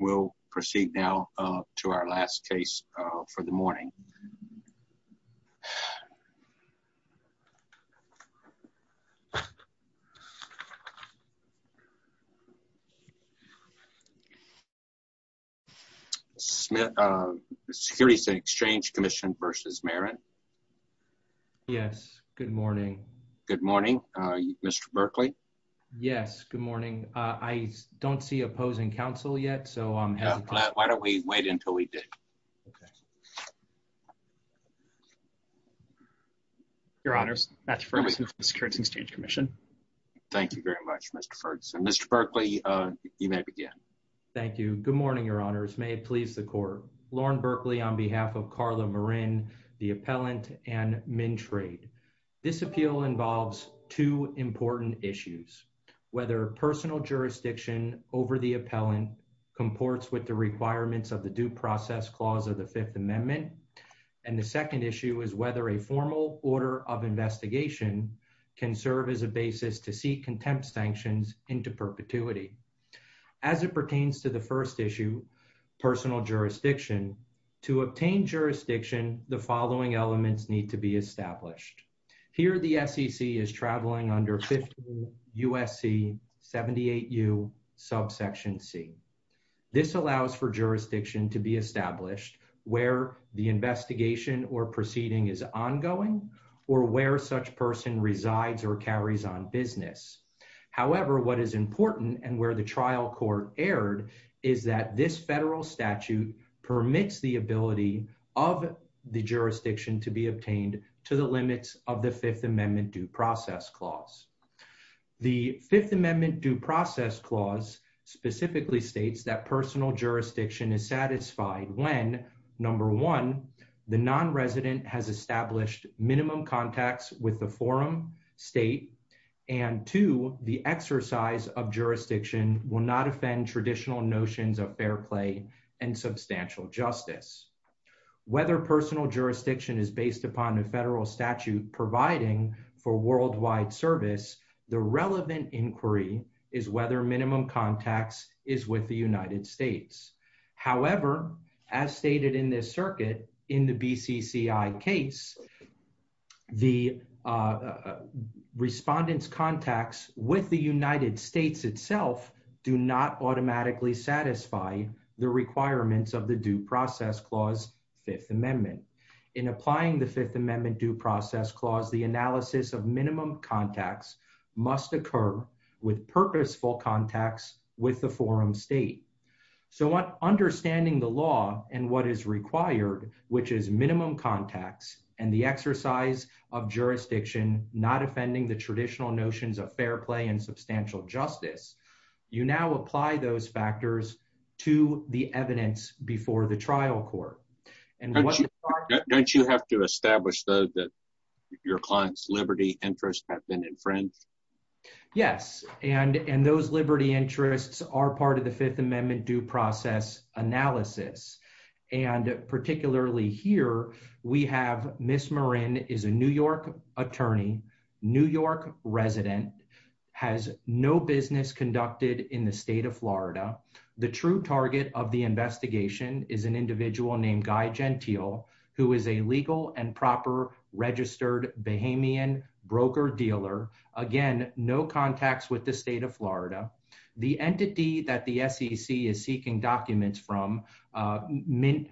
We'll proceed now to our last case for the morning. Smith, Securities and Exchange Commission v. Marin. Yes. Good morning. Good morning. Mr. Berkley. Yes. Good morning. I don't see opposing counsel yet. So, um, why don't we wait until we did? Okay. Your honors. That's for the Securities and Exchange Commission. Thank you very much, Mr. Ferguson, Mr. Berkley. Uh, you may begin. Thank you. Good morning, your honors. May it please the court. Lauren Berkley on behalf of Carla Marin, the appellant and MinTrade. This appeal involves two important issues. Whether personal jurisdiction over the appellant comports with the requirements of the due process clause of the fifth amendment, and the second issue is whether a formal order of investigation can serve as a basis to seek contempt sanctions into perpetuity. As it pertains to the first issue, personal jurisdiction to obtain jurisdiction, the following elements need to be established here. The SEC is traveling under 50 USC 78 U subsection C. This allows for jurisdiction to be established where the investigation or proceeding is ongoing or where such person resides or carries on business. However, what is important and where the trial court erred is that this federal statute permits the ability of the jurisdiction to be obtained to the limits of the fifth amendment due process clause, the fifth amendment due process clause specifically states that personal jurisdiction is satisfied. When number one, the non-resident has established minimum contacts with the forum state and to the exercise of jurisdiction will not offend traditional notions of fair play and substantial justice, whether personal jurisdiction is based upon a federal statute providing for worldwide service, the relevant inquiry is whether minimum contacts is with the United States. However, as stated in this circuit in the BCCI case, the respondents contacts with the United States itself do not automatically satisfy the requirements of the due process clause fifth amendment. In applying the fifth amendment due process clause, the analysis of minimum contacts must occur with purposeful contacts with the forum state. So what understanding the law and what is required, which is minimum contacts and the exercise of jurisdiction, not offending the traditional notions of fair play and substantial justice. You now apply those factors to the evidence before the trial court. And what don't you have to establish though, that your client's Liberty interest have been in France. Yes. And, and those Liberty interests are part of the fifth amendment due process analysis. And particularly here we have Ms. Marin is a New York attorney, New York resident has no business conducted in the state of Florida. The true target of the investigation is an individual named Guy Gentile, who is a legal and proper registered Bahamian broker dealer. Again, no contacts with the state of Florida. The entity that the SEC is seeking documents from a mint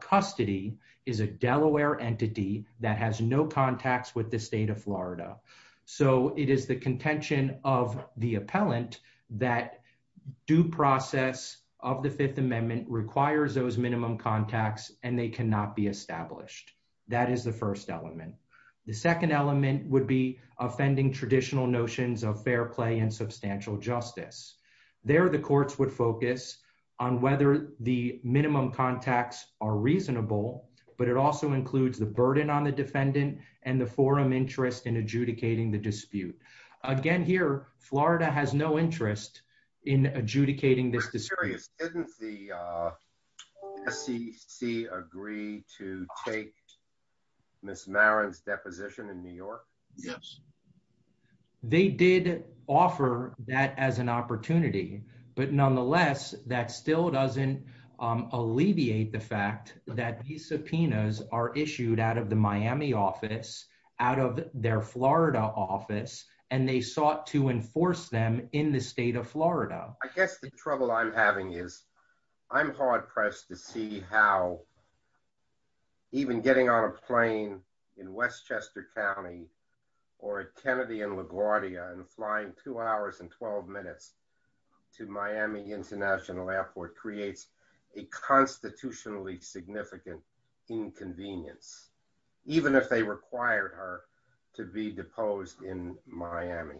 custody is a Delaware entity that has no contacts with the state of Florida. So it is the contention of the appellant that due process of the fifth amendment requires those minimum contacts and they cannot be established. That is the first element. The second element would be offending traditional notions of fair play and substantial justice. There are the courts would focus on whether the minimum contacts are reasonable, but it also includes the burden on the defendant and the forum interest in adjudicating the dispute. Again, here, Florida has no interest in adjudicating this dispute. Didn't the SEC agree to take Ms. Marin's deposition in New York? Yes. They did offer that as an opportunity, but nonetheless, that still doesn't alleviate the fact that these subpoenas are issued out of the Miami office, out of their Florida office, and they sought to enforce them in the state of Florida. I guess the trouble I'm having is I'm hard pressed to see how even getting on a plane in Westchester County or at Kennedy and LaGuardia and flying two hours and 12 minutes to Miami international airport creates a constitutionally significant inconvenience, even if they required her to be deposed in Miami,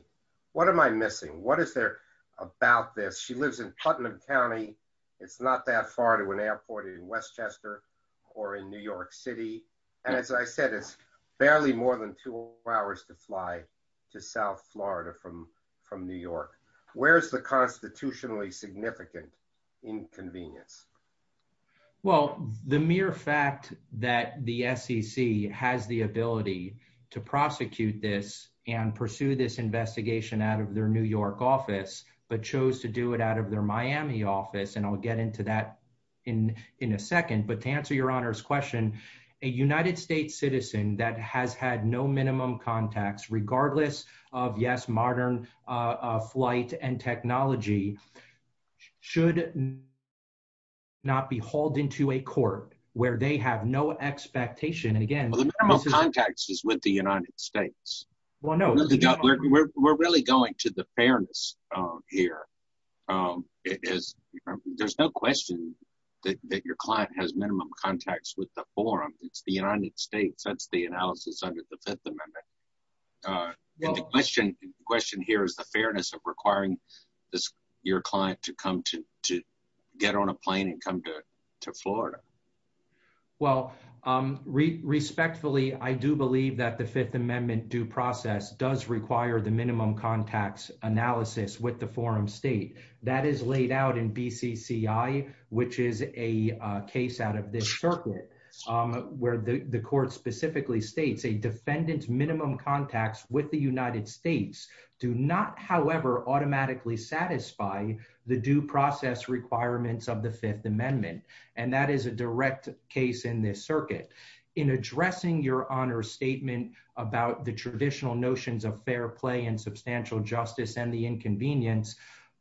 what am I missing? What is there about this? She lives in Putnam County. It's not that far to an airport in Westchester or in New York City. And as I said, it's barely more than two hours to fly to South Florida from New York. Where's the constitutionally significant inconvenience? Well, the mere fact that the SEC has the ability to prosecute this and pursue this investigation out of their New York office, but chose to do it out of their Miami office, and I'll get into that in a second, but to answer your honor's question, a United States citizen that has had no minimum contacts, regardless of yes, modern flight and technology should not be hauled into a court where they have no expectation and again, Well, the minimum contacts is with the United States. Well, no, we're really going to the fairness here. There's no question that your client has minimum contacts with the forum. It's the United States. That's the analysis under the fifth amendment. Uh, the question, the question here is the fairness of requiring your client to come to, to get on a plane and come to, to Florida. Well, um, re respectfully, I do believe that the fifth amendment due process does require the minimum contacts analysis with the forum state that is laid out in BCCI, which is a case out of this circuit, um, where the court specifically states a defendant's minimum contacts with the United States do not, however, automatically satisfy the due process requirements of the fifth amendment. And that is a direct case in this circuit in addressing your honor statement about the traditional notions of fair play and substantial justice and the inconvenience.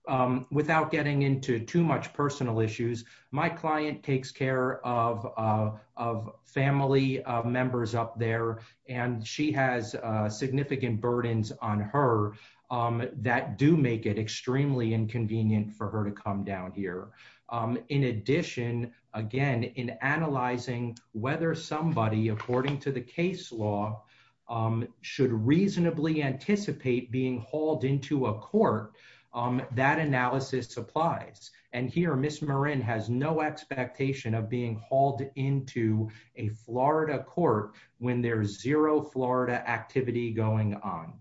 Um, without getting into too much personal issues, my client takes care of, uh, of family members up there. And she has a significant burdens on her, um, that do make it extremely inconvenient for her to come down here. Um, in addition, again, in analyzing whether somebody, according to the case law, um, should reasonably anticipate being hauled into a court. Um, that analysis supplies and here, Ms. Marin has no expectation of being hauled into a Florida court when there's zero Florida activity going on.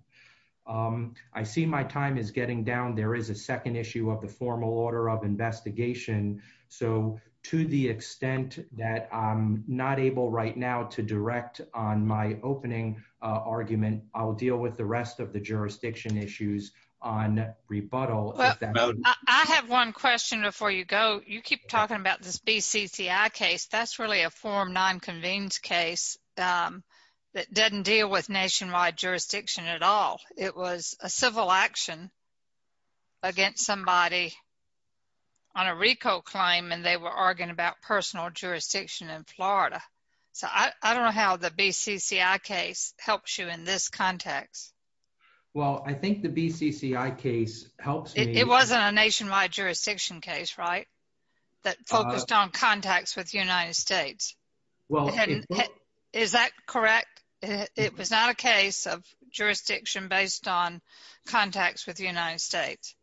Um, I see my time is getting down. There is a second issue of the formal order of investigation. So to the extent that I'm not able right now to direct on my opening, uh, rebuttal, I have one question before you go. You keep talking about this BCCI case. That's really a form nine convenes case. Um, that doesn't deal with nationwide jurisdiction at all. It was a civil action against somebody on a RICO claim, and they were arguing about personal jurisdiction in Florida. So I don't know how the BCCI case helps you in this context. Well, I think the BCCI case helps. It wasn't a nationwide jurisdiction case, right? That focused on contacts with the United States. Well, is that correct? It was not a case of jurisdiction based on contacts with the United States.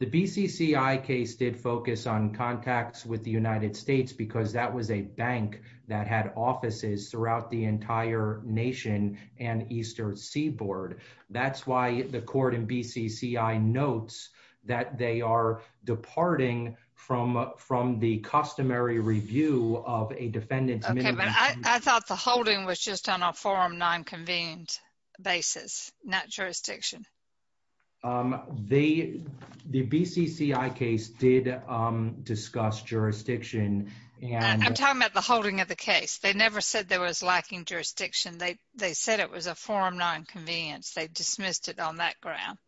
The BCCI case did focus on contacts with the United States because that was a bank that had offices throughout the entire nation and Eastern seaboard. That's why the court in BCCI notes that they are departing from, from the customary review of a defendant. I thought the holding was just on a forum nine convened basis, not jurisdiction. Um, the, the BCCI case did, um, discuss jurisdiction. And I'm talking about the holding of the case. They never said there was lacking jurisdiction. They, they said it was a forum nine convenience. They dismissed it on that ground.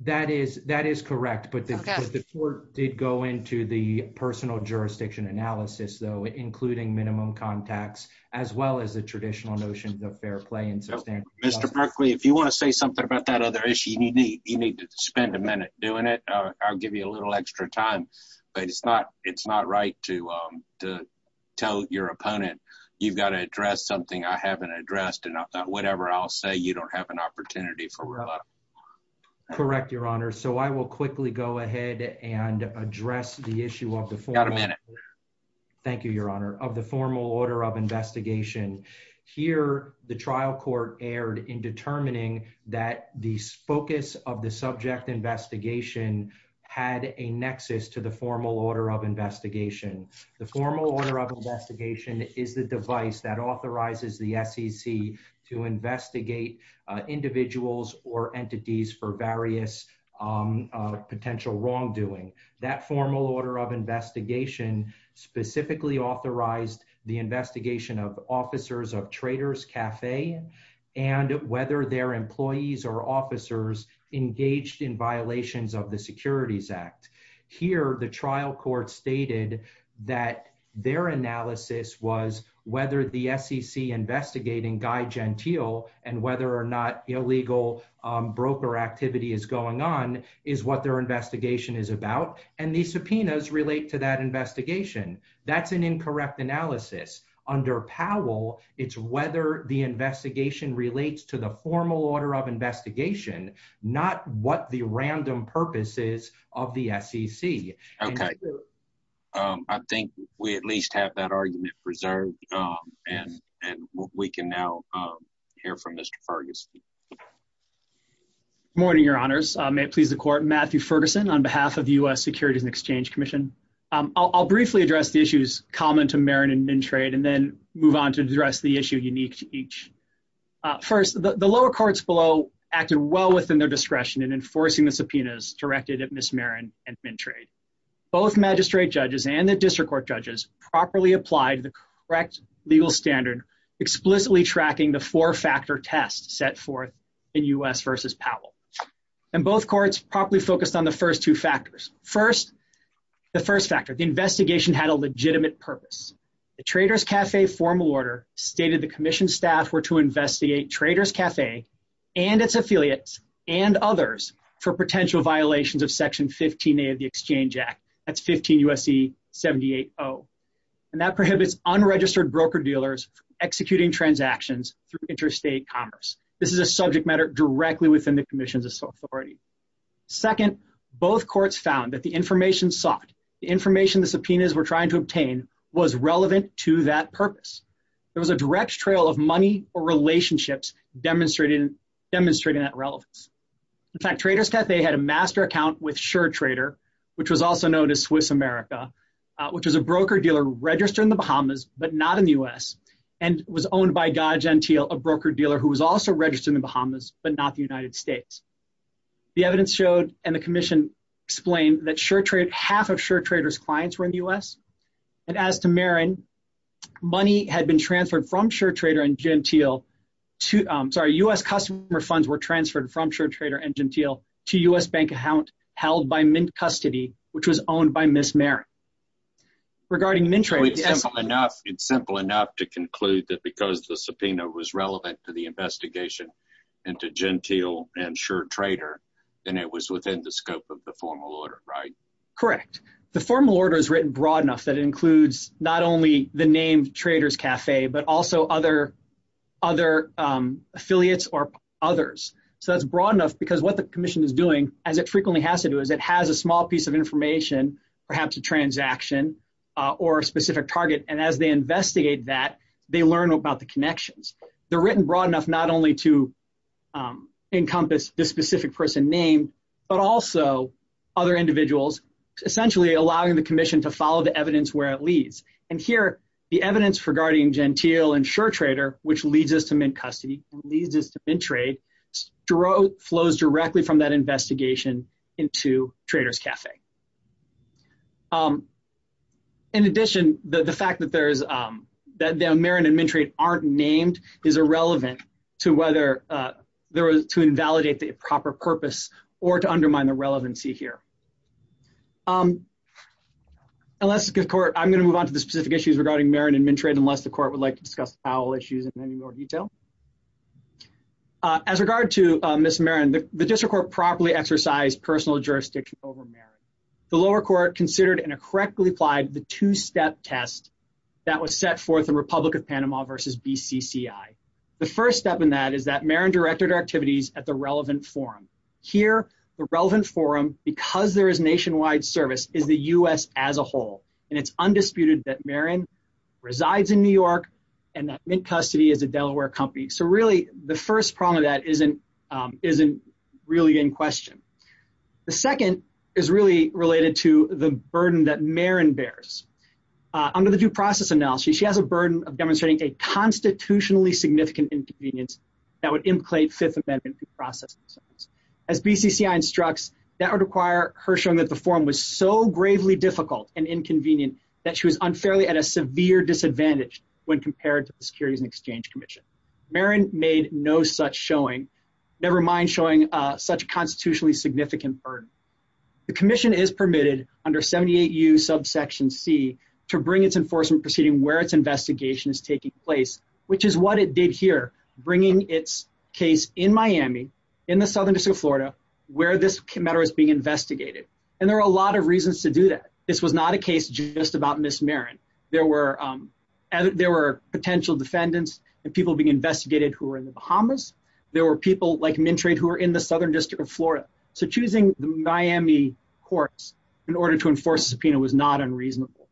That is, that is correct. But the court did go into the personal jurisdiction analysis though, including minimum contacts, as well as the traditional notions of fair play and sustainability. Mr. Berkley, if you want to say something about that other issue, you need, you need to spend a minute doing it. I'll give you a little extra time, but it's not, it's not right to, um, to tell your opponent, you've got to address something I haven't addressed. And I thought, whatever I'll say, you don't have an opportunity for. Correct. Your honor. So I will quickly go ahead and address the issue of the form. Thank you, your honor of the formal order of investigation here, the trial court erred in determining that the focus of the subject investigation had a nexus to the formal order of investigation. The formal order of investigation is the device that authorizes the SEC to investigate individuals or entities for various, um, uh, potential wrongdoing. That formal order of investigation specifically authorized the and whether their employees or officers engaged in violations of the securities act here, the trial court stated that their analysis was whether the SEC investigating guy Gentile and whether or not illegal, um, broker activity is going on is what their investigation is about. And these subpoenas relate to that investigation. That's an incorrect analysis under Powell. It's whether the investigation relates to the formal order of investigation, not what the random purposes of the SEC. Okay. Um, I think we at least have that argument preserved. Um, and, and we can now, um, hear from Mr. Ferguson. Morning, your honors. I may please the court, Matthew Ferguson on behalf of the U S securities and exchange commission. Um, I'll, I'll briefly address the issues common to Marin and trade, and then move on to address the issue unique to each, uh, first, the lower courts below acted well within their discretion and enforcing the subpoenas directed at miss Marin and men trade, both magistrate judges and the district court judges properly applied the correct legal standard, explicitly tracking the four factor tests set forth in us versus Powell. And both courts properly focused on the first two factors. First, the first factor, the investigation had a legitimate purpose. The traders cafe formal order stated. The commission staff were to investigate traders cafe and its affiliates and others for potential violations of section 15, eight of the exchange act that's 15 USC 78. Oh, and that prohibits unregistered broker dealers executing transactions through interstate commerce. This is a subject matter directly within the commission's authority. Second, both courts found that the information soft, the information, the information was relevant to that purpose. There was a direct trail of money or relationships demonstrated demonstrating that relevance. In fact, traders cafe had a master account with sure trader, which was also known as Swiss America, uh, which was a broker dealer registered in the Bahamas, but not in the U S and was owned by God Gentile, a broker dealer who was also registered in the Bahamas, but not the United States. The evidence showed, and the commission explained that sure trade, half of sure traders clients were in the U S and as to Marin money had been transferred from sure trader and Gentile to, um, sorry, us customer funds were transferred from sure trader and Gentile to us bank account held by mint custody, which was owned by Miss Merrick. Regarding mentor, it's simple enough to conclude that because the subpoena was relevant to the investigation and to Gentile and sure trader, then it was within the scope of the formal order, right? Correct. The formal order is written broad enough that it includes not only the name traders cafe, but also other. Other, um, affiliates or others. So that's broad enough because what the commission is doing as it frequently has to do is it has a small piece of information, perhaps a transaction, uh, or a specific target. And as they investigate that, they learn about the connections. They're written broad enough, not only to, um, encompass this specific person named, but also other individuals essentially allowing the commission to follow the evidence where it leads. And here, the evidence for guardian Gentile and sure trader, which leads us to mint custody and leads us to bin trade to row flows directly from that investigation into traders cafe. Um, in addition, the fact that there's, um, that the Marin and mint trade aren't named is irrelevant to whether, uh, there was to a purpose or to undermine the relevancy here. Um, unless it's good court, I'm going to move on to the specific issues regarding Marin and mint trade. Unless the court would like to discuss Powell issues in any more detail. Uh, as regard to, uh, miss Marin, the district court properly exercised personal jurisdiction over merit. The lower court considered in a correctly applied, the two-step test that was set forth in Republic of Panama versus BCCI. The first step in that is that Marin directed our activities at the relevant forum here, the relevant forum, because there is nationwide service is the U S as a whole. And it's undisputed that Marin resides in New York and that mint custody is a Delaware company. So really the first problem that isn't, um, isn't really in question. The second is really related to the burden that Marin bears. Uh, under the due process analysis, she has a burden of demonstrating a constitutionally significant inconvenience that would implicate fifth amendment process as BCCI instructs that would require her showing that the form was so gravely difficult and inconvenient that she was unfairly at a severe disadvantage when compared to the securities and exchange commission, Marin made no such showing, nevermind showing, uh, such constitutionally significant burden. The commission is permitted under 78 U subsection C to bring its enforcement proceeding where it's investigation is taking place, which is what it did bringing its case in Miami, in the Southern district of Florida, where this matter is being investigated. And there are a lot of reasons to do that. This was not a case just about Ms. Marin. There were, um, there were potential defendants and people being investigated who were in the Bahamas. There were people like mint trade who are in the Southern district of Florida. So choosing the Miami courts in order to enforce the subpoena was not unreasonable.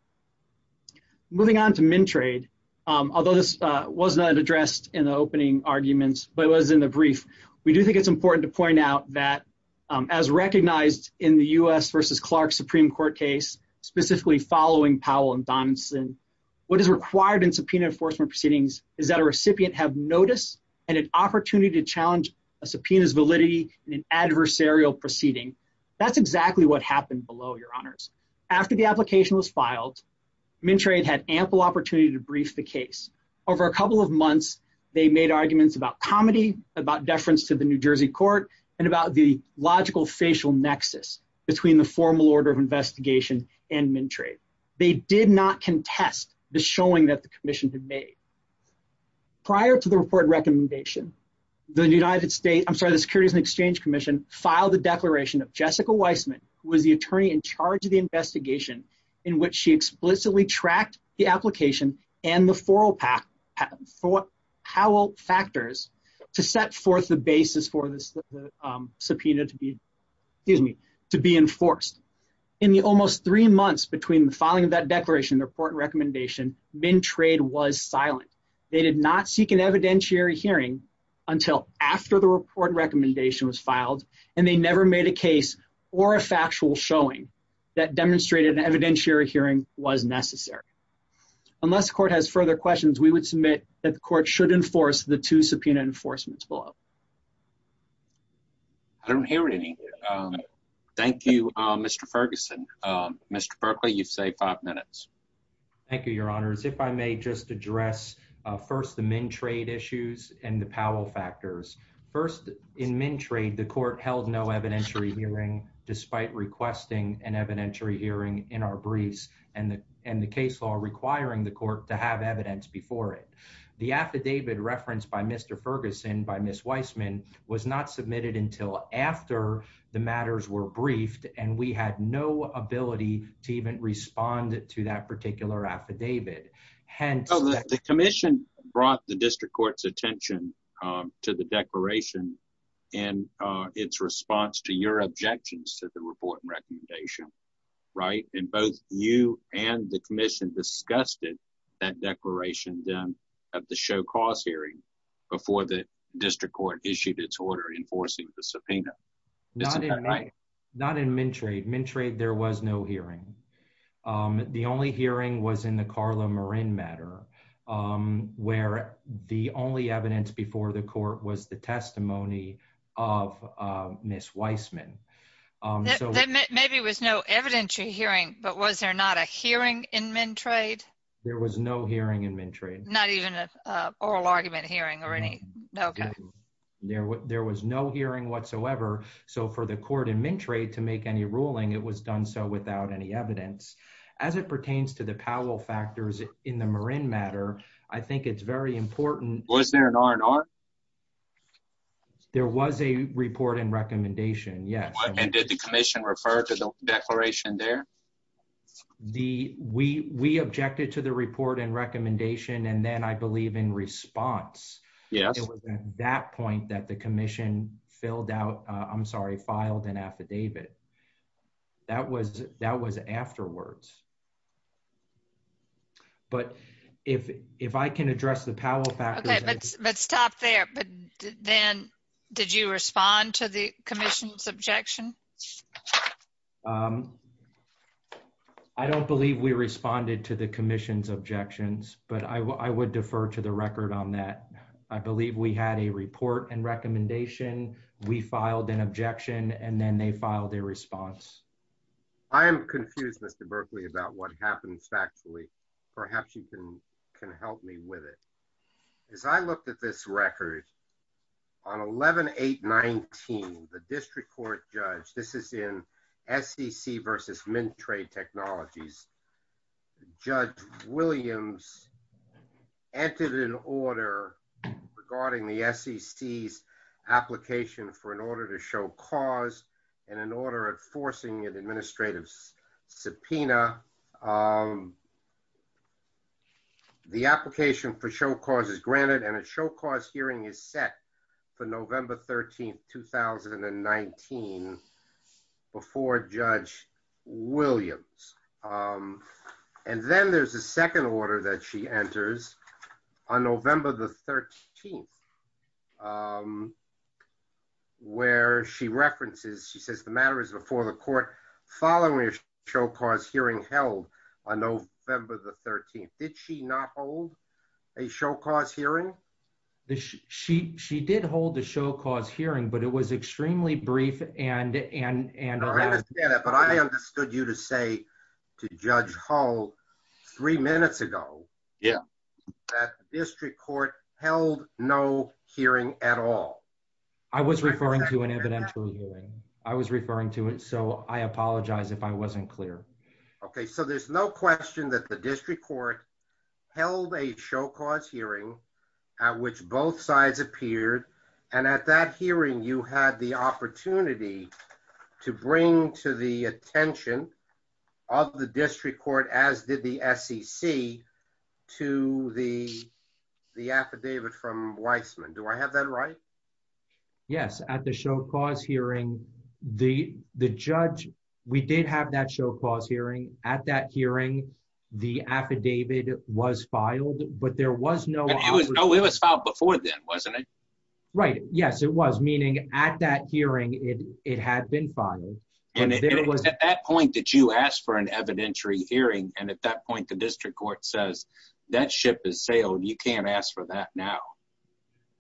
Moving on to mint trade. Um, although this, uh, was not addressed in the opening arguments, but it was in the brief, we do think it's important to point out that, um, as recognized in the U S versus Clark Supreme court case, specifically following Powell and Don Senn, what is required in subpoena enforcement proceedings is that a recipient have notice and an opportunity to challenge a subpoena's validity and an adversarial proceeding. That's exactly what happened below your honors. After the application was filed, men trade had ample opportunity to brief the case. Over a couple of months, they made arguments about comedy, about deference to the New Jersey court, and about the logical facial nexus between the formal order of investigation and men trade, they did not contest the showing that the commission had made. Prior to the report recommendation, the United States, I'm sorry, the securities and exchange commission filed the declaration of Jessica Weissman, who was the attorney in charge of the investigation in which she explicitly tracked the application and the four pack for how old factors to set forth the basis for this subpoena to be, excuse me, to be enforced in the almost three months between the filing of that declaration report recommendation. Men trade was silent. They did not seek an evidentiary hearing until after the report recommendation was filed. And they never made a case or a factual showing that demonstrated an evidentiary hearing was necessary. Unless the court has further questions, we would submit that the court should enforce the two subpoena enforcements below. I don't hear it. Any, um, thank you, Mr. Ferguson, um, Mr. Berkeley, you've saved five minutes. Thank you, your honors. If I may just address, uh, first the men trade issues and the Powell factors. First in men trade, the court held no evidentiary hearing, despite requesting an evidentiary hearing in our briefs and the, and the case law requiring the court to have evidence before it. The affidavit referenced by Mr. Ferguson by Ms. Weissman was not submitted until after the matters were briefed. And we had no ability to even respond to that particular affidavit. Hence the commission brought the district court's attention, um, to the declaration and, uh, its response to your objections to the report recommendation. Right. And both you and the commission discussed it, that declaration, then at the show cause hearing before the district court issued its order, enforcing the subpoena. Not in men trade men trade. There was no hearing. Um, the only hearing was in the Carla Marin matter. Um, where the only evidence before the court was the testimony of, uh, Ms. Weissman. Um, so maybe it was no evidentiary hearing, but was there not a hearing in men trade? There was no hearing in men trade, not even a oral argument hearing or any. There, there was no hearing whatsoever. So for the court in men trade to make any ruling, it was done so without any evidence as it pertains to the Powell factors in the Marin matter. I think it's very important. There was a report and recommendation. Yes. And did the commission refer to the declaration there? The, we, we objected to the report and recommendation. And then I believe in response, it was at that point that the commission filled out, uh, I'm sorry, filed an affidavit. That was, that was afterwards. But if, if I can address the Powell fact, let's stop there. But then did you respond to the commission's objection? Um, I don't believe we responded to the commission's objections, but I w I would defer to the record on that. I believe we had a report and recommendation. We filed an objection and then they filed a response. I am confused. Mr. Berkeley about what happens factually. Perhaps you can, can help me with it. As I looked at this record on 11, eight, 19, the district court judge, this is in sec versus men trade technologies. Judge Williams entered an order regarding the SEC's application for an order to show cause and an order enforcing an administrative subpoena, um, the application for show causes granted. And a show cause hearing is set for November 13th, 2019 before judge Williams. Um, and then there's a second order that she enters on November the 13th. Um, where she references, she says the matter is before the court following a show cause hearing held on November the 13th, did she not hold a show cause hearing? The she, she, she did hold the show cause hearing, but it was extremely brief and, and, and I understand it, but I understood you to say to judge hall three minutes ago, that district court held no hearing at all. I was referring to an evidential hearing. I was referring to it. So I apologize if I wasn't clear. Okay. So there's no question that the district court held a show cause hearing at which both sides appeared. And at that hearing, you had the opportunity to bring to the attention of the district court, as did the sec to the, the affidavit from Weissman. Do I have that right? Yes. At the show cause hearing, the, the judge, we did have that show cause hearing at that hearing, the affidavit was filed, but there was no, it was no, it was filed before then, wasn't it? Right. Yes, it was. Meaning at that hearing, it, it had been filed. And it was at that point that you asked for an evidentiary hearing. And at that point, the district court says that ship is sailed. You can't ask for that now.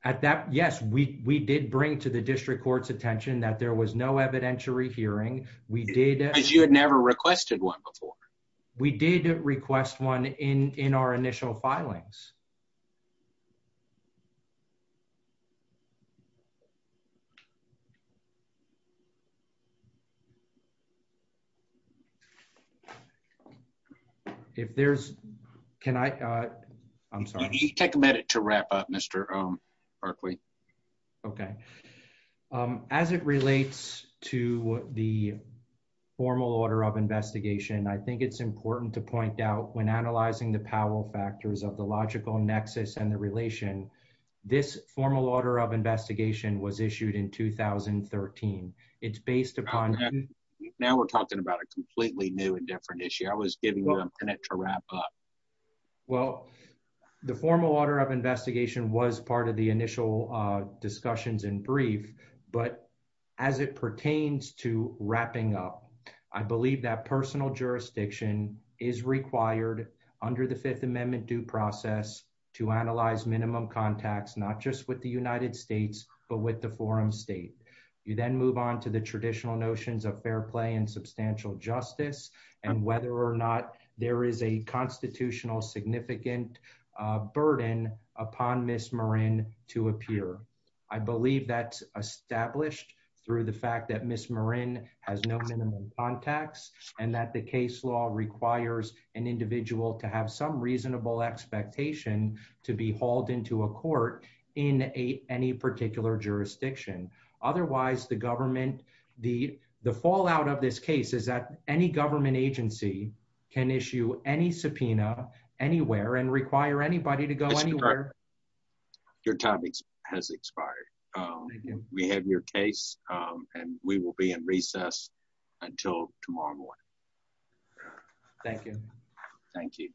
At that. Yes, we, we did bring to the district court's attention that there was no evidentiary hearing. We did, as you had never requested one before. We did request one in, in our initial filings. Okay. If there's, can I, uh, I'm sorry. You take a minute to wrap up Mr. Um, Berkeley. Okay. Um, as it relates to the formal order of investigation, I think it's important to point out when analyzing the Powell factors of the logical nexus and the relation, this formal order of investigation was issued in 2013. It's based upon. Now we're talking about a completely new and different issue. I was giving you a minute to wrap up. Well, the formal order of investigation was part of the initial, uh, discussions in brief, but as it pertains to wrapping up, I believe that personal jurisdiction is required under the fifth amendment due process to analyze minimum contacts, not just with the United States, but with the forum state, you then move on to the traditional notions of fair play and substantial justice and whether or not there is a constitutional significant, uh, burden upon Ms. Marin to appear. I believe that's established through the fact that Ms. requires an individual to have some reasonable expectation to be hauled into a court in a, any particular jurisdiction. Otherwise the government, the, the fallout of this case is that any government agency can issue any subpoena anywhere and require anybody to go. Your time has expired. Um, we have your case, um, and we will be in recess until tomorrow morning. Thank you. Thank you.